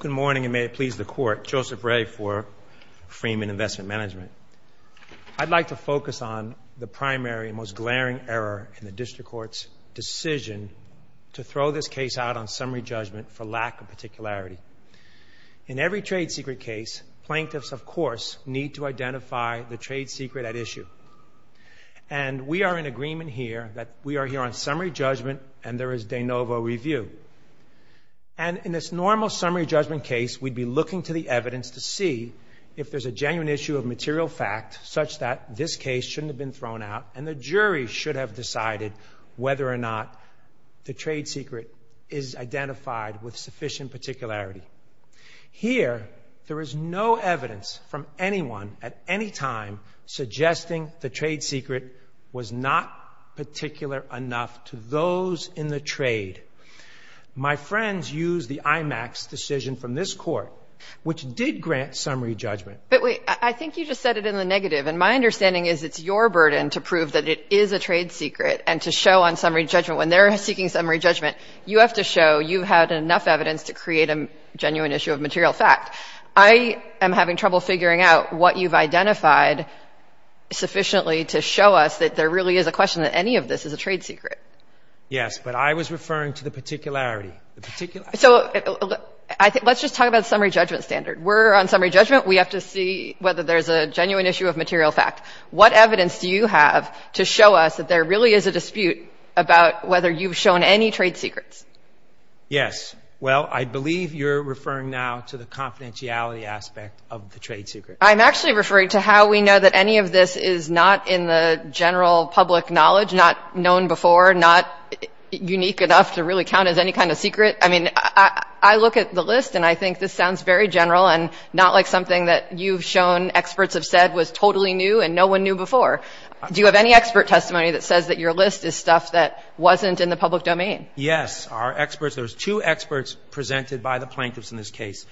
Good morning, and may it please the Court. Joseph Ray for Freeman Investment Management. I'd like to focus on the primary, most glaring error in the District Court's decision to throw this case out on summary judgment for lack of particularity. In every trade secret case, plaintiffs, of course, need to identify the trade secret at issue. And we are in agreement here that we are here on summary judgment and there is de novo review. And in this normal summary judgment case, we'd be looking to the evidence to see if there's a genuine issue of material fact such that this case shouldn't have been thrown out and the jury should have decided whether or not the trade secret is identified with sufficient particularity. Here, there is no evidence from anyone at any time suggesting the trade secret was not particular enough to those in the trade. My friends used the IMAX decision from this Court, which did grant summary judgment. But wait, I think you just said it in the negative. And my understanding is it's your burden to prove that it is a trade secret and to show on summary judgment when they're seeking summary judgment, you have to show you had enough evidence to create a genuine issue of material fact. I am having trouble figuring out what you've identified sufficiently to show us that there really is a question that any of this is a trade secret. Yes, but I was referring to the particularity. The particularity. So let's just talk about summary judgment standard. We're on summary judgment. We have to see whether there's a genuine issue of material fact. What evidence do you have to show us that there really is a dispute about whether you've shown any trade secrets? Yes. Well, I believe you're referring now to the confidentiality aspect of the trade secret. I'm actually referring to how we know that any of this is not in the general public knowledge, not known before, not unique enough to really count as any kind of secret. I mean, I look at the list and I think this sounds very general and not like something that you've shown experts have said was totally new and no one knew before. Do you have any expert testimony that says that your list is stuff that wasn't in the public domain? Yes. Our experts, there's two experts presented by the plaintiffs in this case,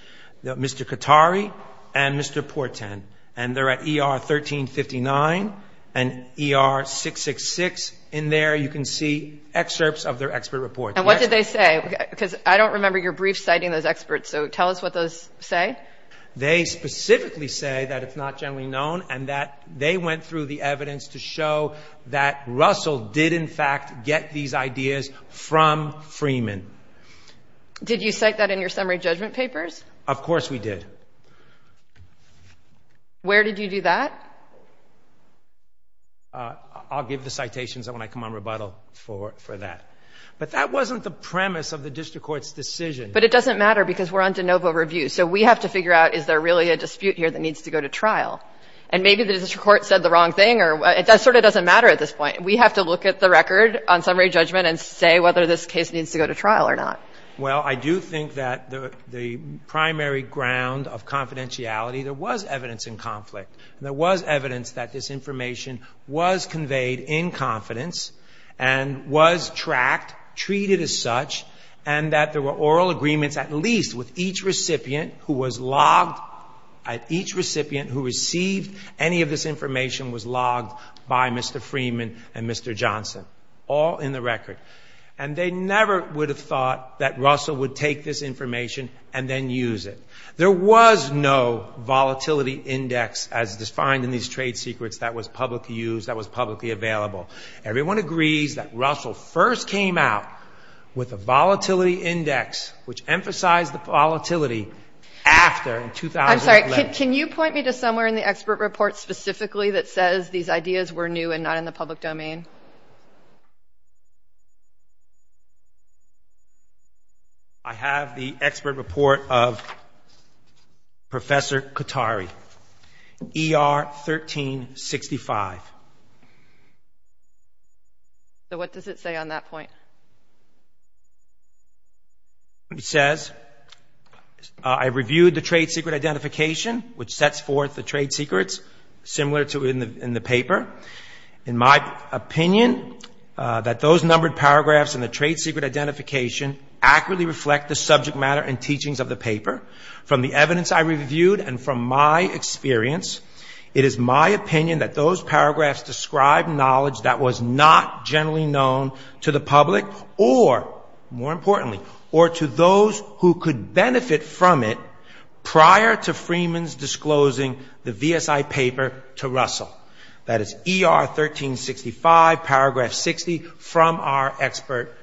Mr. Katari and Mr. Porten. And they're at ER 1359 and ER 666. In there you can see excerpts of their expert reports. And what did they say? Because I don't remember your brief citing those experts, so tell us what those say. They specifically say that it's not generally known and that they went through the evidence to show that Russell did, in fact, get these ideas from Freeman. Did you cite that in your summary judgment papers? Of course we did. Where did you do that? I'll give the citations when I come on rebuttal for that. But that wasn't the premise of the district court's decision. But it doesn't matter because we're on de novo review, so we have to figure out is there really a dispute here that needs to go to trial. And maybe the district court said the wrong thing or it sort of doesn't matter at this point. We have to look at the record on summary judgment and say whether this case needs to go to trial or not. Well, I do think that the primary ground of confidentiality, there was evidence in conflict. There was evidence that this information was conveyed in confidence and was tracked, treated as such, and that there were oral agreements at least with each recipient who was logged, each recipient who received any of this information was logged by Mr. Freeman and Mr. Johnson. All in the record. And they never would have thought that Russell would take this information and then use it. There was no volatility index as defined in these trade secrets that was publicly used, that was publicly available. Everyone agrees that Russell first came out with a volatility index, which emphasized the volatility after 2011. I'm sorry, can you point me to somewhere in the expert report specifically that says these ideas were new and not in the public domain? I have the expert report of Professor Katari, ER 1365. So what does it say on that point? It says, I reviewed the trade secret identification, which sets forth the trade secrets similar to in the paper. In my opinion, that those numbered paragraphs in the trade secret identification accurately reflect the subject matter and teachings of the paper. From the evidence I reviewed and from my experience, it is my opinion that those paragraphs describe knowledge that was not generally known to the public or, more importantly, or to those who could benefit from it prior to Freeman's disclosing the VSI paper to Russell. That is ER 1365, paragraph 60 from our expert,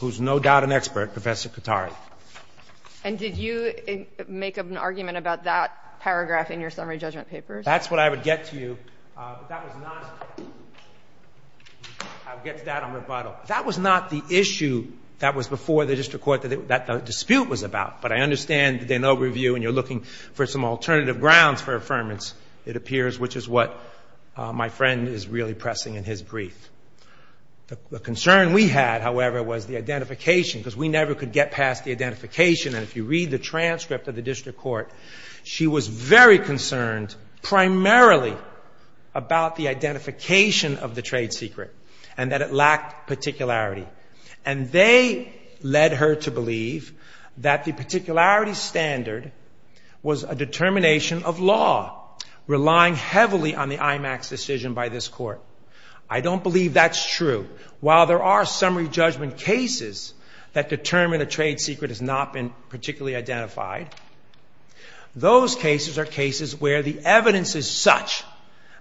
who's no doubt an expert, Professor Katari. And did you make an argument about that paragraph in your summary judgment papers? That's what I would get to you. That was not, I would get to that on rebuttal. That was not the issue that was before the district court that the dispute was about. But I understand an overview and you're looking for some alternative grounds for affirmance, it appears, which is what my friend is really pressing in his brief. The concern we had, however, was the identification, because we never could get past the identification. And if you read the transcript of the district court, she was very concerned primarily about the identification of the trade secret and that it lacked particularity. And they led her to believe that the particularity standard was a determination of law, relying heavily on the IMAX decision by this court. I don't believe that's true. While there are summary judgment cases that determine a trade secret has not been particularly identified, those cases are cases where the evidence is such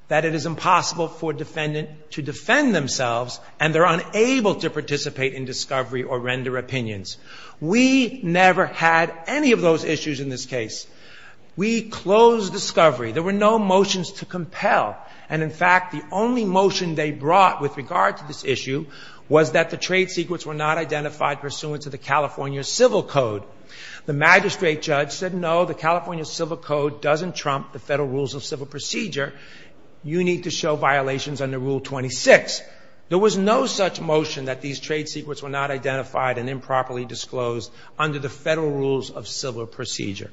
that it is impossible for a defendant to defend themselves and they're unable to participate in discovery or render opinions. We never had any of those issues in this case. We closed discovery. There were no motions to compel. And, in fact, the only motion they brought with regard to this issue was that the trade secrets were not identified pursuant to the California Civil Code. The magistrate judge said, no, the California Civil Code doesn't trump the Federal Rules of Civil Procedure. You need to show violations under Rule 26. There was no such motion that these trade secrets were not identified and improperly disclosed under the Federal Rules of Civil Procedure.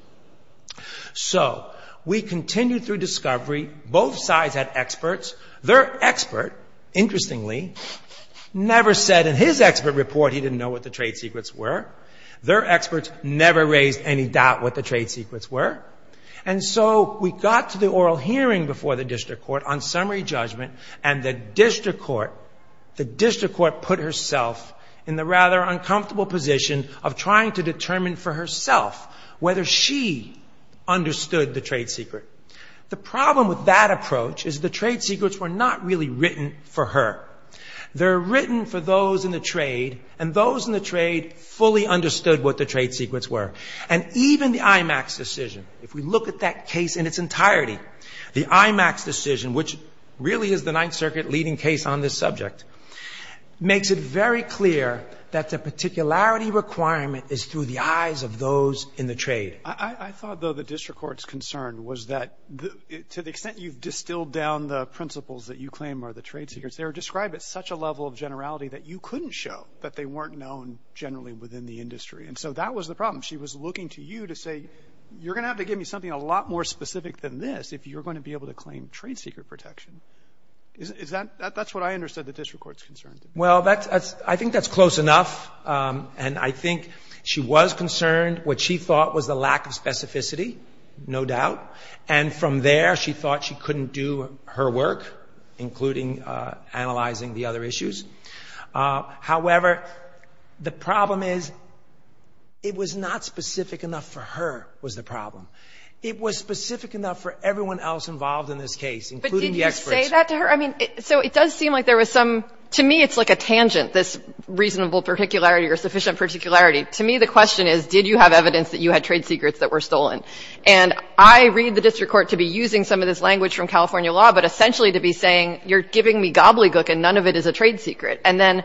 So we continued through discovery. Both sides had experts. Their expert, interestingly, never said in his expert report he didn't know what the trade secrets were. Their experts never raised any doubt what the trade secrets were. And so we got to the oral hearing before the district court on summary judgment, and the district court put herself in the rather uncomfortable position of trying to determine for herself whether she understood the trade secret. The problem with that approach is the trade secrets were not really written for her. They're written for those in the trade, and those in the trade fully understood what the trade secrets were. And even the IMAX decision, if we look at that case in its entirety, the IMAX decision, which really is the Ninth Circuit leading case on this subject, makes it very clear that the particularity requirement is through the eyes of those in the trade. I thought, though, the district court's concern was that to the extent you've distilled down the principles that you claim are the trade secrets, they were described at such a level of generality that you couldn't show that they weren't known generally within the industry. And so that was the problem. She was looking to you to say, you're going to have to give me something a lot more specific than this if you're going to be able to claim trade secret protection. That's what I understood the district court's concern. Well, I think that's close enough. And I think she was concerned what she thought was the lack of specificity, no doubt. And from there, she thought she couldn't do her work, including analyzing the other issues. However, the problem is it was not specific enough for her was the problem. It was specific enough for everyone else involved in this case, including the experts. Can you say that to her? I mean, so it does seem like there was some to me it's like a tangent, this reasonable particularity or sufficient particularity. To me, the question is, did you have evidence that you had trade secrets that were stolen? And I read the district court to be using some of this language from California law, but essentially to be saying you're giving me gobbledygook and none of it is a trade secret. And then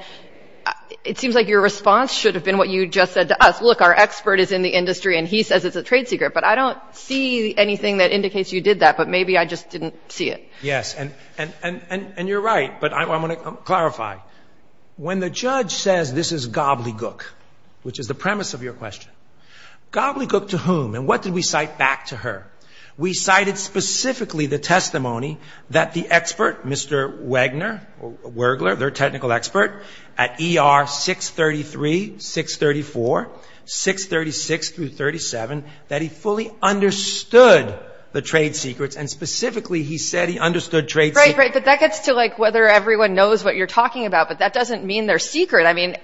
it seems like your response should have been what you just said to us. Look, our expert is in the industry, and he says it's a trade secret. But I don't see anything that indicates you did that, but maybe I just didn't see it. Yes, and you're right, but I want to clarify. When the judge says this is gobbledygook, which is the premise of your question, gobbledygook to whom? And what did we cite back to her? We cited specifically the testimony that the expert, Mr. Wagner, Wurgler, their technical expert, at ER 633, 634, 636 through 37, that he fully understood the trade secrets and specifically he said he understood trade secrets. Right, right, but that gets to like whether everyone knows what you're talking about, but that doesn't mean they're secret. I mean,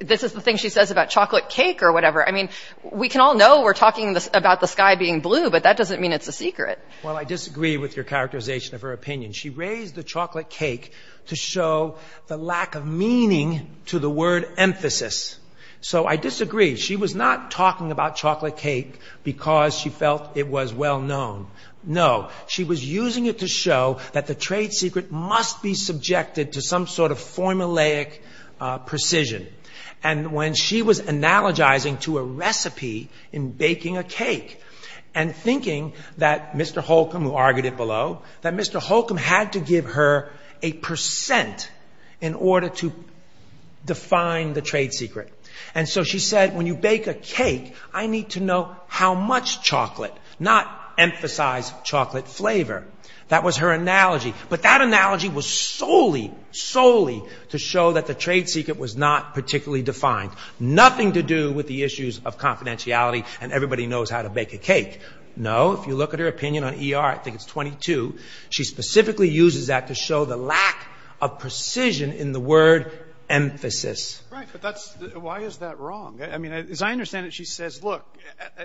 this is the thing she says about chocolate cake or whatever. I mean, we can all know we're talking about the sky being blue, but that doesn't mean it's a secret. Well, I disagree with your characterization of her opinion. She raised the chocolate cake to show the lack of meaning to the word emphasis. So I disagree. She was not talking about chocolate cake because she felt it was well known. No, she was using it to show that the trade secret must be subjected to some sort of formulaic precision. And when she was analogizing to a recipe in baking a cake and thinking that Mr. Holcomb, who argued it below, that Mr. Holcomb had to give her a percent in order to define the trade secret. And so she said when you bake a cake, I need to know how much chocolate, not emphasize chocolate flavor. That was her analogy. But that analogy was solely, solely to show that the trade secret was not particularly defined. Nothing to do with the issues of confidentiality and everybody knows how to bake a cake. No, if you look at her opinion on ER, I think it's 22, she specifically uses that to show the lack of precision in the word emphasis. Right. But that's why is that wrong? I mean, as I understand it, she says, look,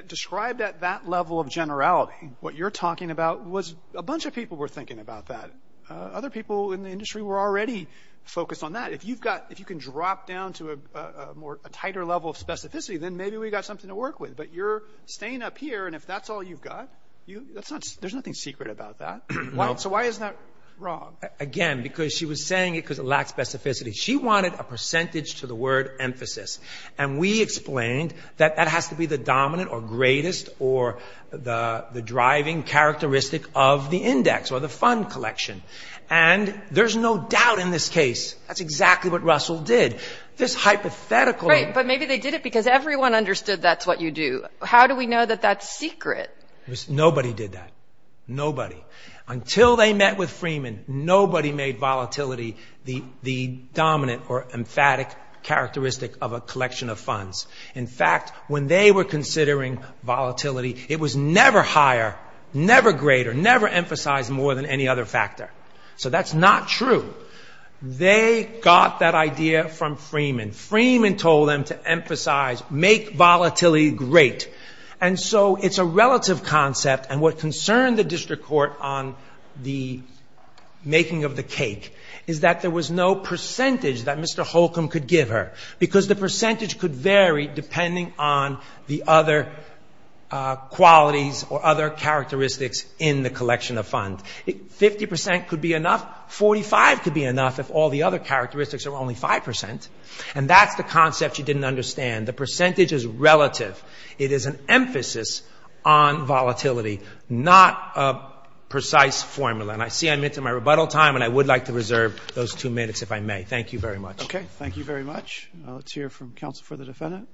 described at that level of generality, what you're talking about was a bunch of people were thinking about that. Other people in the industry were already focused on that. If you've got if you can drop down to a more tighter level of specificity, then maybe we got something to work with. But you're staying up here. And if that's all you've got, you that's not there's nothing secret about that. Well, so why is that wrong? Again, because she was saying it because it lacks specificity. She wanted a percentage to the word emphasis. And we explained that that has to be the dominant or greatest or the driving characteristic of the index or the fund collection. And there's no doubt in this case, that's exactly what Russell did. This hypothetical. But maybe they did it because everyone understood that's what you do. How do we know that that's secret? Nobody did that. Nobody. Until they met with Freeman, nobody made volatility the dominant or emphatic characteristic of a collection of funds. In fact, when they were considering volatility, it was never higher, never greater, never emphasized more than any other factor. So that's not true. They got that idea from Freeman. Freeman told them to emphasize make volatility great. And so it's a relative concept. And what concerned the district court on the making of the cake is that there was no percentage that Mr. Holcomb could give her. Because the percentage could vary depending on the other qualities or other characteristics in the collection of funds. 50% could be enough. 45% could be enough if all the other characteristics are only 5%. And that's the concept you didn't understand. The percentage is relative. It is an emphasis on volatility, not a precise formula. And I see I'm into my rebuttal time, and I would like to reserve those two minutes if I may. Thank you very much. Okay. Thank you very much. Let's hear from counsel for the defendant.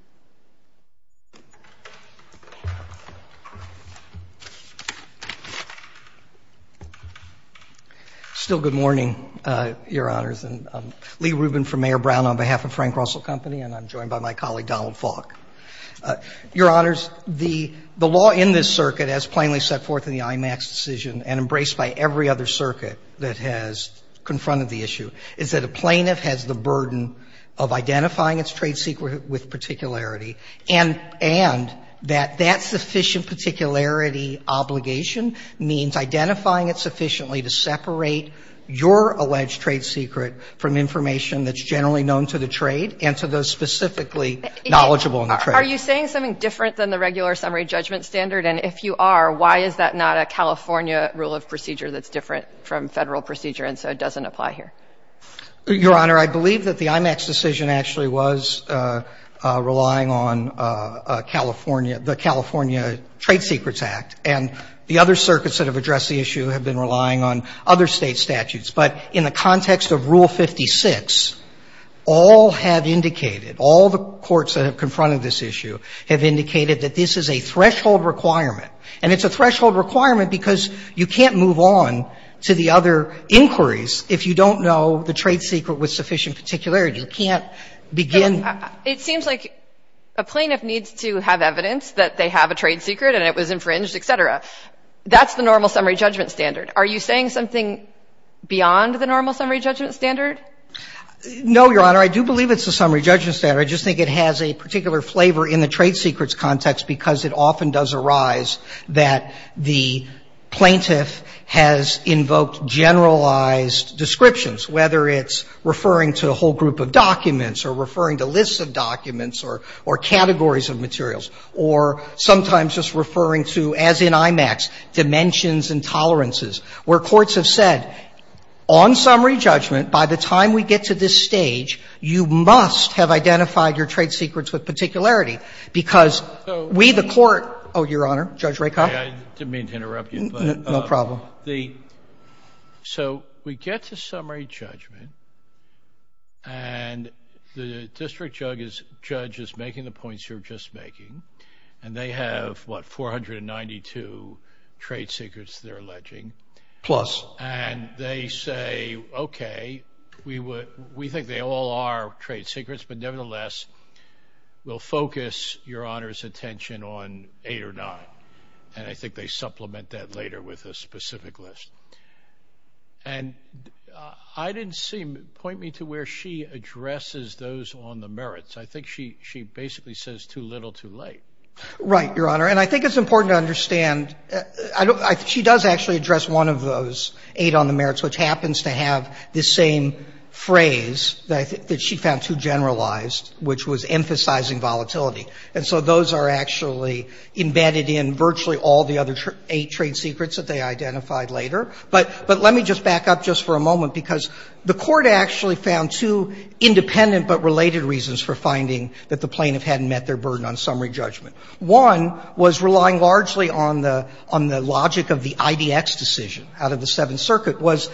Still good morning, Your Honors. I'm Lee Rubin from Mayor Brown on behalf of Frank Russell Company, and I'm joined by my colleague Donald Falk. Your Honors, the law in this circuit as plainly set forth in the IMAX decision and embraced by every other circuit that has confronted the issue is that a plaintiff has the burden of identifying its trade secret with particularity, and that that sufficient particularity obligation means identifying it sufficiently to separate your alleged trade secret from information that's generally known to the trade and to those specifically knowledgeable in the trade. Are you saying something different than the regular summary judgment standard? And if you are, why is that not a California rule of procedure that's different from Federal procedure, and so it doesn't apply here? Your Honor, I believe that the IMAX decision actually was relying on California, the California Trade Secrets Act, and the other circuits that have addressed the issue have been relying on other State statutes. But in the context of Rule 56, all have indicated, all the courts that have confronted this issue, have indicated that this is a threshold requirement. And it's a threshold requirement because you can't move on to the other inquiries if you don't know the trade secret with sufficient particularity. You can't begin to. It seems like a plaintiff needs to have evidence that they have a trade secret and it was infringed, et cetera. That's the normal summary judgment standard. Are you saying something beyond the normal summary judgment standard? No, Your Honor. I do believe it's the summary judgment standard. I just think it has a particular flavor in the trade secrets context because it often does arise that the plaintiff has invoked generalized descriptions, whether it's referring to a whole group of documents or referring to lists of documents or categories of materials, or sometimes just referring to, as in IMAX, dimensions and tolerances, where courts have said on summary judgment, by the time we get to this point, we've identified your trade secrets with particularity because we, the court Oh, Your Honor. Judge Rakoff? I didn't mean to interrupt you. No problem. So we get to summary judgment and the district judge is making the points you were just making and they have, what, 492 trade secrets they're alleging. Plus. And they say, okay, we think they all are trade secrets, but nevertheless, we'll focus Your Honor's attention on eight or nine. And I think they supplement that later with a specific list. And I didn't see, point me to where she addresses those on the merits. I think she basically says too little, too late. Right, Your Honor. And I think it's important to understand, she does actually address one of those eight on the merits, which happens to have the same phrase that she found too generalized, which was emphasizing volatility. And so those are actually embedded in virtually all the other eight trade secrets that they identified later. But let me just back up just for a moment because the court actually found two independent but related reasons for finding that the plaintiff hadn't met their burden on summary judgment. One was relying largely on the logic of the IDX decision out of the Seventh Circuit was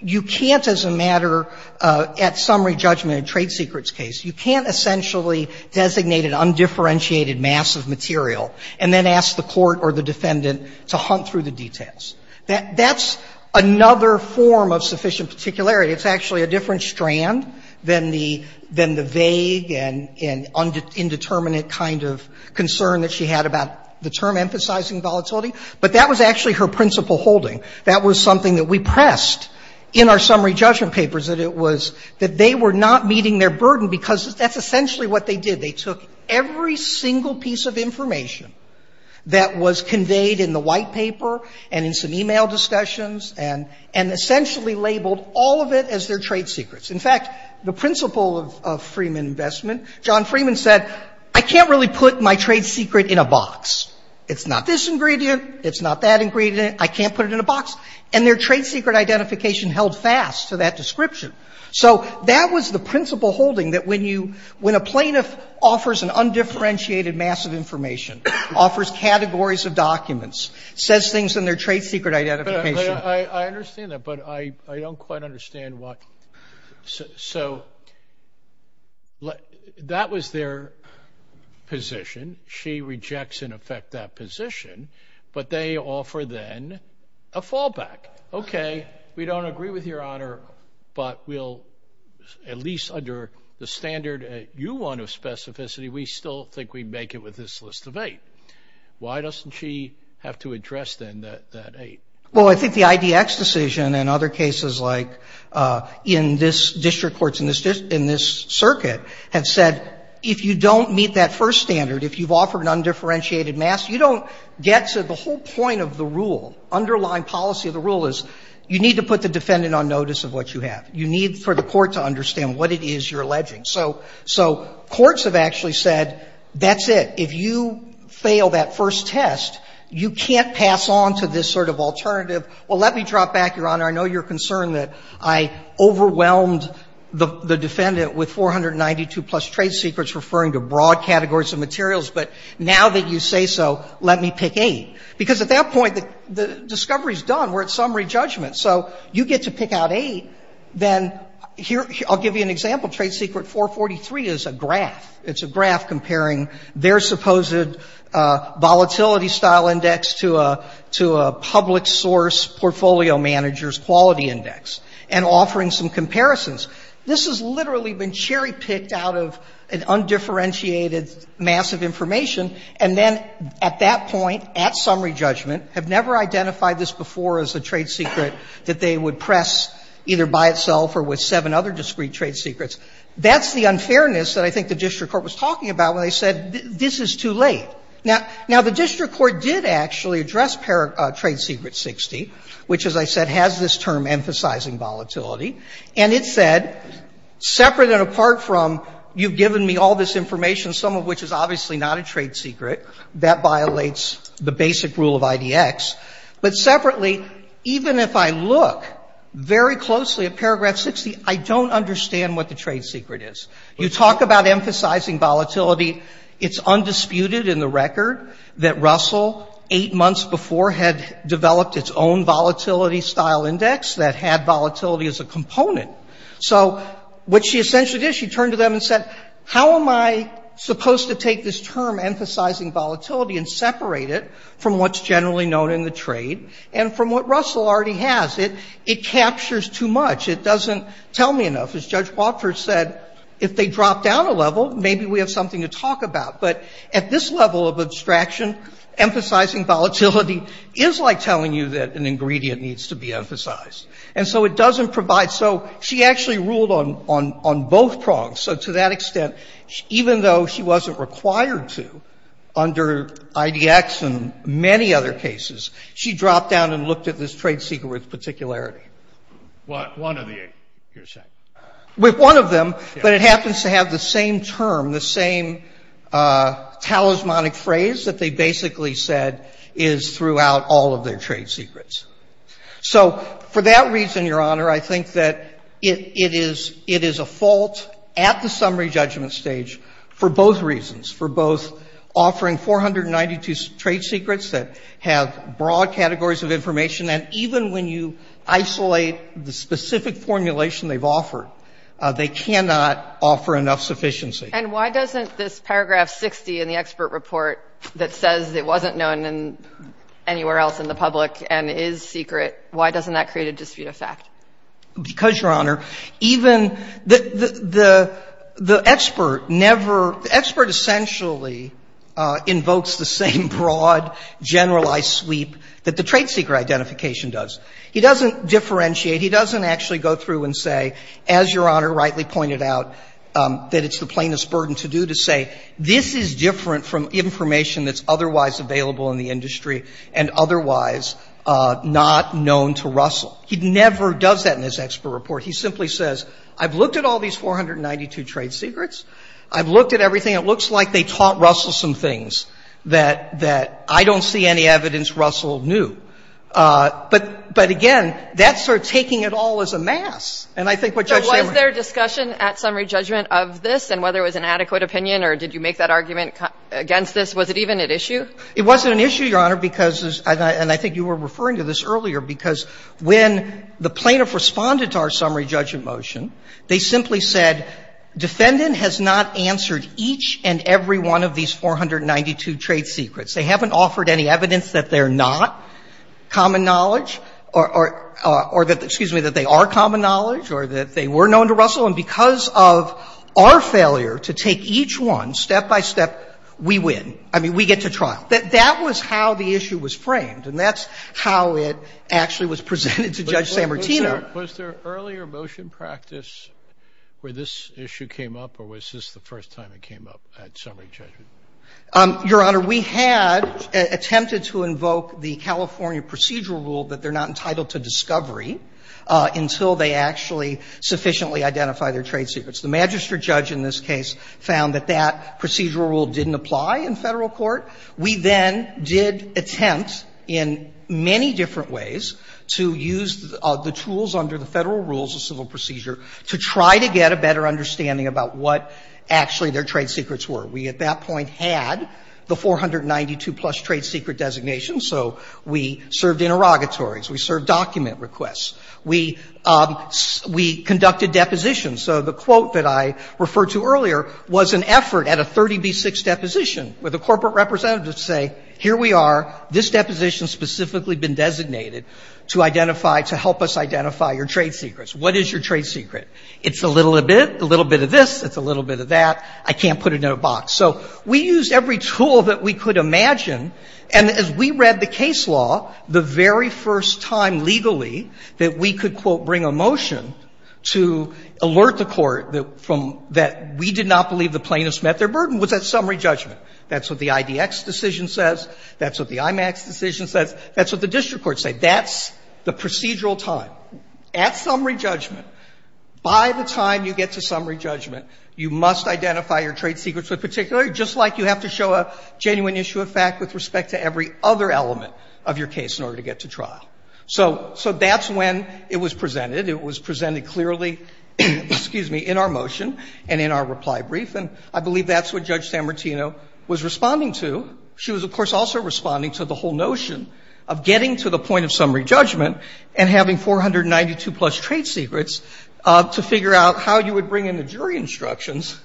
you can't, as a matter at summary judgment in a trade secrets case, you can't essentially designate an undifferentiated mass of material and then ask the court or the defendant to hunt through the details. That's another form of sufficient particularity. It's actually a different strand than the vague and indeterminate kind of concern that she had about the term emphasizing volatility. But that was actually her principal holding. That was something that we pressed in our summary judgment papers, that it was that they were not meeting their burden because that's essentially what they did. They took every single piece of information that was conveyed in the white paper and in some e-mail discussions and essentially labeled all of it as their trade secrets. In fact, the principle of Freeman investment, John Freeman said, I can't really put my trade secret in a box. It's not this ingredient. It's not that ingredient. I can't put it in a box. And their trade secret identification held fast to that description. So that was the principle holding that when you, when a plaintiff offers an undifferentiated mass of information, offers categories of documents, says things in their trade secret identification. I understand that. But I don't quite understand why. So that was their position. She rejects, in effect, that position. But they offer then a fallback. Okay. We don't agree with Your Honor, but we'll at least under the standard you want of specificity, we still think we'd make it with this list of eight. Why doesn't she have to address then that eight? Well, I think the IDX decision and other cases like in this district court, in this circuit, have said if you don't meet that first standard, if you've offered an undifferentiated mass, you don't get to the whole point of the rule. Underlying policy of the rule is you need to put the defendant on notice of what you have. You need for the court to understand what it is you're alleging. So courts have actually said, that's it. If you fail that first test, you can't pass on to this sort of alternative. Well, let me drop back, Your Honor. I know you're concerned that I overwhelmed the defendant with 492-plus trade secrets referring to broad categories of materials. But now that you say so, let me pick eight. Because at that point, the discovery is done. We're at summary judgment. So you get to pick out eight. Then here, I'll give you an example. Trade secret 443 is a graph. It's a graph comparing their supposed volatility style index to a public source portfolio manager's quality index and offering some comparisons. This has literally been cherry picked out of an undifferentiated mass of information. And then at that point, at summary judgment, have never identified this before as a trade secret that they would press either by itself or with seven other discrete trade secrets. That's the unfairness that I think the district court was talking about when they said, this is too late. Now, the district court did actually address trade secret 60, which, as I said, has this term emphasizing volatility. And it said, separate and apart from you've given me all this information, some of which is obviously not a trade secret, that violates the basic rule of IDX. But separately, even if I look very closely at paragraph 60, I don't understand what the trade secret is. You talk about emphasizing volatility. It's undisputed in the record that Russell, eight months before, had developed its own volatility style index that had volatility as a component. So what she essentially did, she turned to them and said, how am I supposed to take this term, emphasizing volatility, and separate it from what's generally known in the trade and from what Russell already has? It captures too much. It doesn't tell me enough. As Judge Wofford said, if they drop down a level, maybe we have something to talk about. But at this level of abstraction, emphasizing volatility is like telling you that an ingredient needs to be emphasized. And so it doesn't provide. So she actually ruled on both prongs. So to that extent, even though she wasn't required to under IDX and many other cases, she dropped down and looked at this trade secret with particularity. With one of them, but it happens to have the same term, the same talismanic phrase that they basically said is throughout all of their trade secrets. So for that reason, Your Honor, I think that it is a fault at the summary judgment stage for both reasons, for both offering 492 trade secrets that have broad categories of information, and even when you isolate the specific formulation they've offered, they cannot offer enough sufficiency. And why doesn't this paragraph 60 in the expert report that says it wasn't known in anywhere else in the public and is secret, why doesn't that create a dispute of fact? Because, Your Honor, even the expert never — the expert essentially invokes the same broad, generalized sweep that the trade secret identification does. He doesn't differentiate. He doesn't actually go through and say, as Your Honor rightly pointed out, that it's the plainest burden to do, to say this is different from information that's otherwise available in the industry and otherwise not known to Russell. He never does that in his expert report. He simply says, I've looked at all these 492 trade secrets. I've looked at everything. It looks like they taught Russell some things that I don't see any evidence Russell knew. But, again, that's sort of taking it all as a mass. And I think what Judge Saleman — So was there discussion at summary judgment of this and whether it was an adequate opinion or did you make that argument against this? Was it even an issue? It wasn't an issue, Your Honor, because — and I think you were referring to this earlier, because when the plaintiff responded to our summary judgment motion, they simply said, defendant has not answered each and every one of these 492 trade secrets. They haven't offered any evidence that they're not common knowledge or that — excuse me, that they're not common knowledge or that they were known to Russell. And because of our failure to take each one step by step, we win. I mean, we get to trial. That was how the issue was framed, and that's how it actually was presented to Judge Sammartino. Was there earlier motion practice where this issue came up, or was this the first time it came up at summary judgment? Your Honor, we had attempted to invoke the California procedural rule that they're not entitled to discovery until they actually sufficiently identify their trade secrets. The magistrate judge in this case found that that procedural rule didn't apply in Federal court. We then did attempt in many different ways to use the tools under the Federal rules of civil procedure to try to get a better understanding about what actually their trade secrets were. We at that point had the 492-plus trade secret designation, so we served interrogatories. We served document requests. We conducted depositions. So the quote that I referred to earlier was an effort at a 30B6 deposition where the corporate representatives say, here we are. This deposition's specifically been designated to identify — to help us identify your trade secrets. What is your trade secret? It's a little bit. A little bit of this. It's a little bit of that. I can't put it in a box. So we used every tool that we could imagine. And as we read the case law, the very first time legally that we could, quote, bring a motion to alert the Court that we did not believe the plaintiffs met their burden was at summary judgment. That's what the IDX decision says. That's what the IMAX decision says. That's what the district courts say. That's the procedural time. At summary judgment, by the time you get to summary judgment, you must identify your trade secrets with particular, just like you have to show a genuine issue of fact with respect to every other element of your case in order to get to trial. So that's when it was presented. It was presented clearly, excuse me, in our motion and in our reply brief. And I believe that's what Judge Sammartino was responding to. She was, of course, also responding to the whole notion of getting to the point of summary judgment and having 492-plus trade secrets to figure out how you would bring in the jury instructions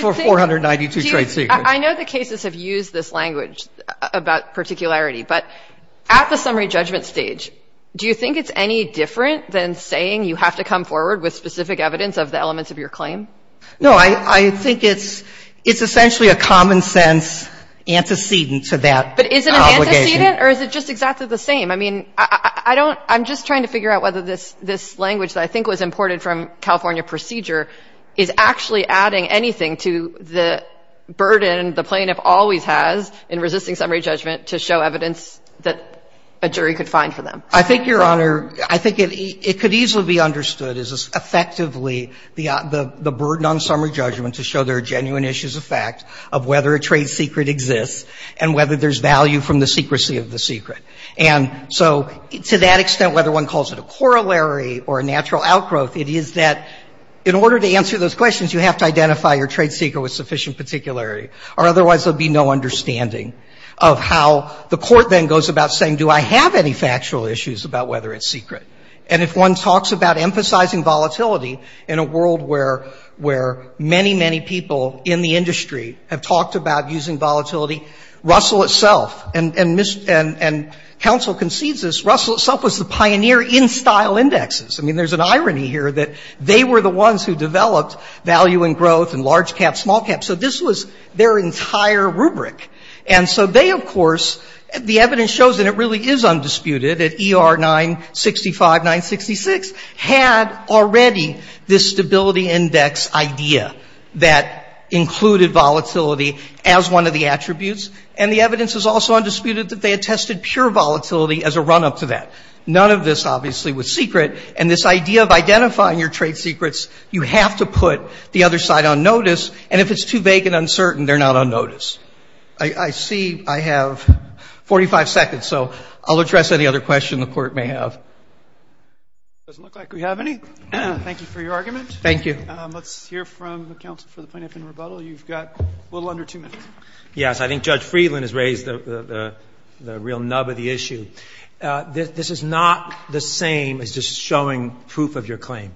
for 492 trade secrets. I know the cases have used this language about particularity. But at the summary judgment stage, do you think it's any different than saying you have to come forward with specific evidence of the elements of your claim? No. I think it's essentially a common-sense antecedent to that obligation. But is it an antecedent or is it just exactly the same? I mean, I don't – I'm just trying to figure out whether this language that I think was imported from California procedure is actually adding anything to the burden the plaintiff always has in resisting summary judgment to show evidence that a jury could find for them. I think, Your Honor, I think it could easily be understood as effectively the burden on summary judgment to show there are genuine issues of fact of whether a trade secret exists and whether there's value from the secrecy of the secret. And so to that extent, whether one calls it a corollary or a natural outgrowth, it is that in order to answer those questions, you have to identify your trade secret with sufficient particularity, or otherwise there would be no understanding of how the court then goes about saying, do I have any factual issues about whether it's secret? And if one talks about emphasizing volatility in a world where many, many people in the industry have talked about using volatility, Russell itself – and counsel concedes this – Russell itself was the pioneer in style indexes. I mean, there's an irony here that they were the ones who developed value and growth and large cap, small cap. So this was their entire rubric. And so they, of course – the evidence shows that it really is undisputed that ER 965, 966 had already this stability index idea that included volatility as one of the attributes. And the evidence is also undisputed that they had tested pure volatility as a run-up to that. None of this, obviously, was secret. And this idea of identifying your trade secrets, you have to put the other side on notice. And if it's too vague and uncertain, they're not on notice. I see I have 45 seconds, so I'll address any other question the court may have. It doesn't look like we have any. Thank you for your argument. Thank you. Let's hear from counsel for the point of no rebuttal. You've got a little under two minutes. Yes, I think Judge Friedland has raised the real nub of the issue. This is not the same as just showing proof of your claim.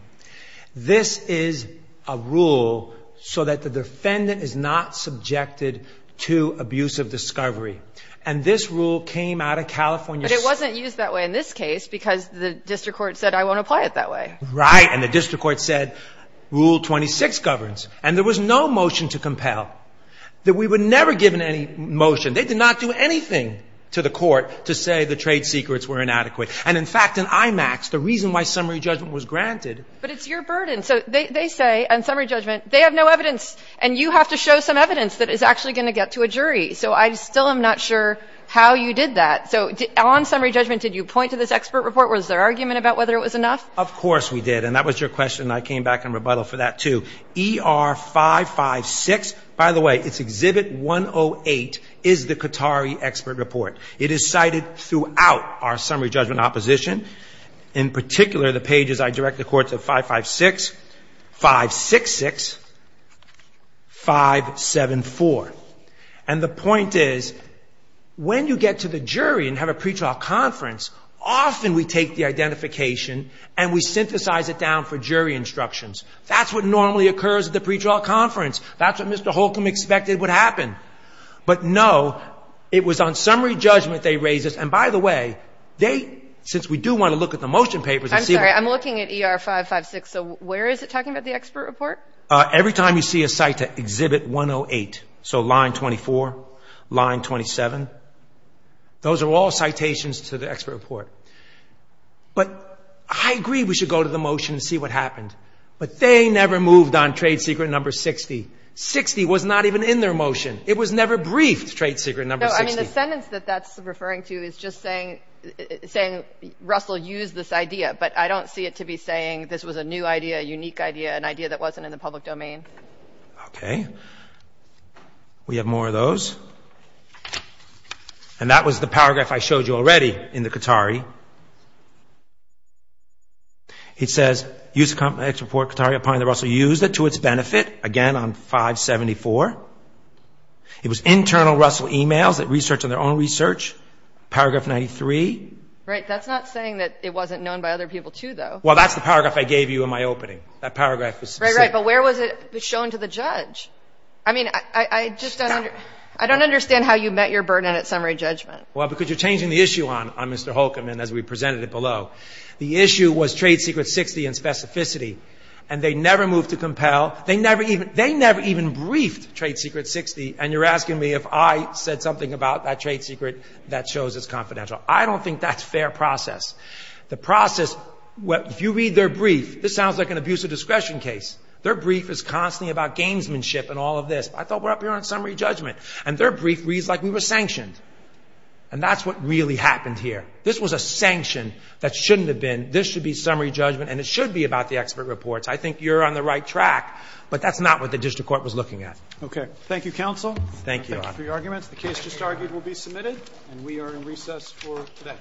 This is a rule so that the defendant is not subjected to abuse of discovery. And this rule came out of California. But it wasn't used that way in this case because the district court said, I won't apply it that way. Right. And the district court said, Rule 26 governs. And there was no motion to compel, that we were never given any motion. They did not do anything to the court to say the trade secrets were inadequate. And, in fact, in IMAX, the reason why summary judgment was granted. But it's your burden. So they say on summary judgment, they have no evidence, and you have to show some evidence that is actually going to get to a jury. So I still am not sure how you did that. So on summary judgment, did you point to this expert report? Was there argument about whether it was enough? Of course we did. And that was your question. And I came back in rebuttal for that, too. ER 556, by the way, it's exhibit 108, is the Qatari expert report. It is cited throughout our summary judgment opposition. In particular, the pages I direct the court to, 556, 566, 574. And the point is, when you get to the jury and have a pretrial conference, often we take the identification and we synthesize it down for jury instructions. That's what normally occurs at the pretrial conference. That's what Mr. Holcomb expected would happen. But, no, it was on summary judgment they raised this. And, by the way, they, since we do want to look at the motion papers. I'm sorry. I'm looking at ER 556. So where is it talking about the expert report? Every time you see a cite to exhibit 108. So line 24, line 27. Those are all citations to the expert report. But I agree we should go to the motion and see what happened. But they never moved on trade secret number 60. 60 was not even in their motion. It was never briefed, trade secret number 60. No, I mean, the sentence that that's referring to is just saying Russell used this idea. But I don't see it to be saying this was a new idea, a unique idea, an idea that wasn't in the public domain. Okay. We have more of those. And that was the paragraph I showed you already in the Qatari. It says, use of complex report Qatari upon the Russell used it to its benefit. Again, on 574. It was internal Russell e-mails that researched on their own research. Paragraph 93. Right. That's not saying that it wasn't known by other people, too, though. Well, that's the paragraph I gave you in my opening. That paragraph was specific. Right, right. But where was it shown to the judge? I mean, I just don't understand how you met your burden at summary judgment. Well, because you're changing the issue on Mr. Holcomb and as we presented it below. The issue was trade secret 60 and specificity. And they never moved to compel. They never even briefed trade secret 60. And you're asking me if I said something about that trade secret that shows it's confidential. I don't think that's fair process. The process, if you read their brief, this sounds like an abuse of discretion case. Their brief is constantly about gamesmanship and all of this. I thought we're up here on summary judgment. And their brief reads like we were sanctioned. And that's what really happened here. This was a sanction that shouldn't have been. This should be summary judgment. And it should be about the expert reports. I think you're on the right track. But that's not what the district court was looking at. Okay. Thank you, counsel. Thank you. Thank you for your arguments. The case just argued will be submitted. And we are in recess for today.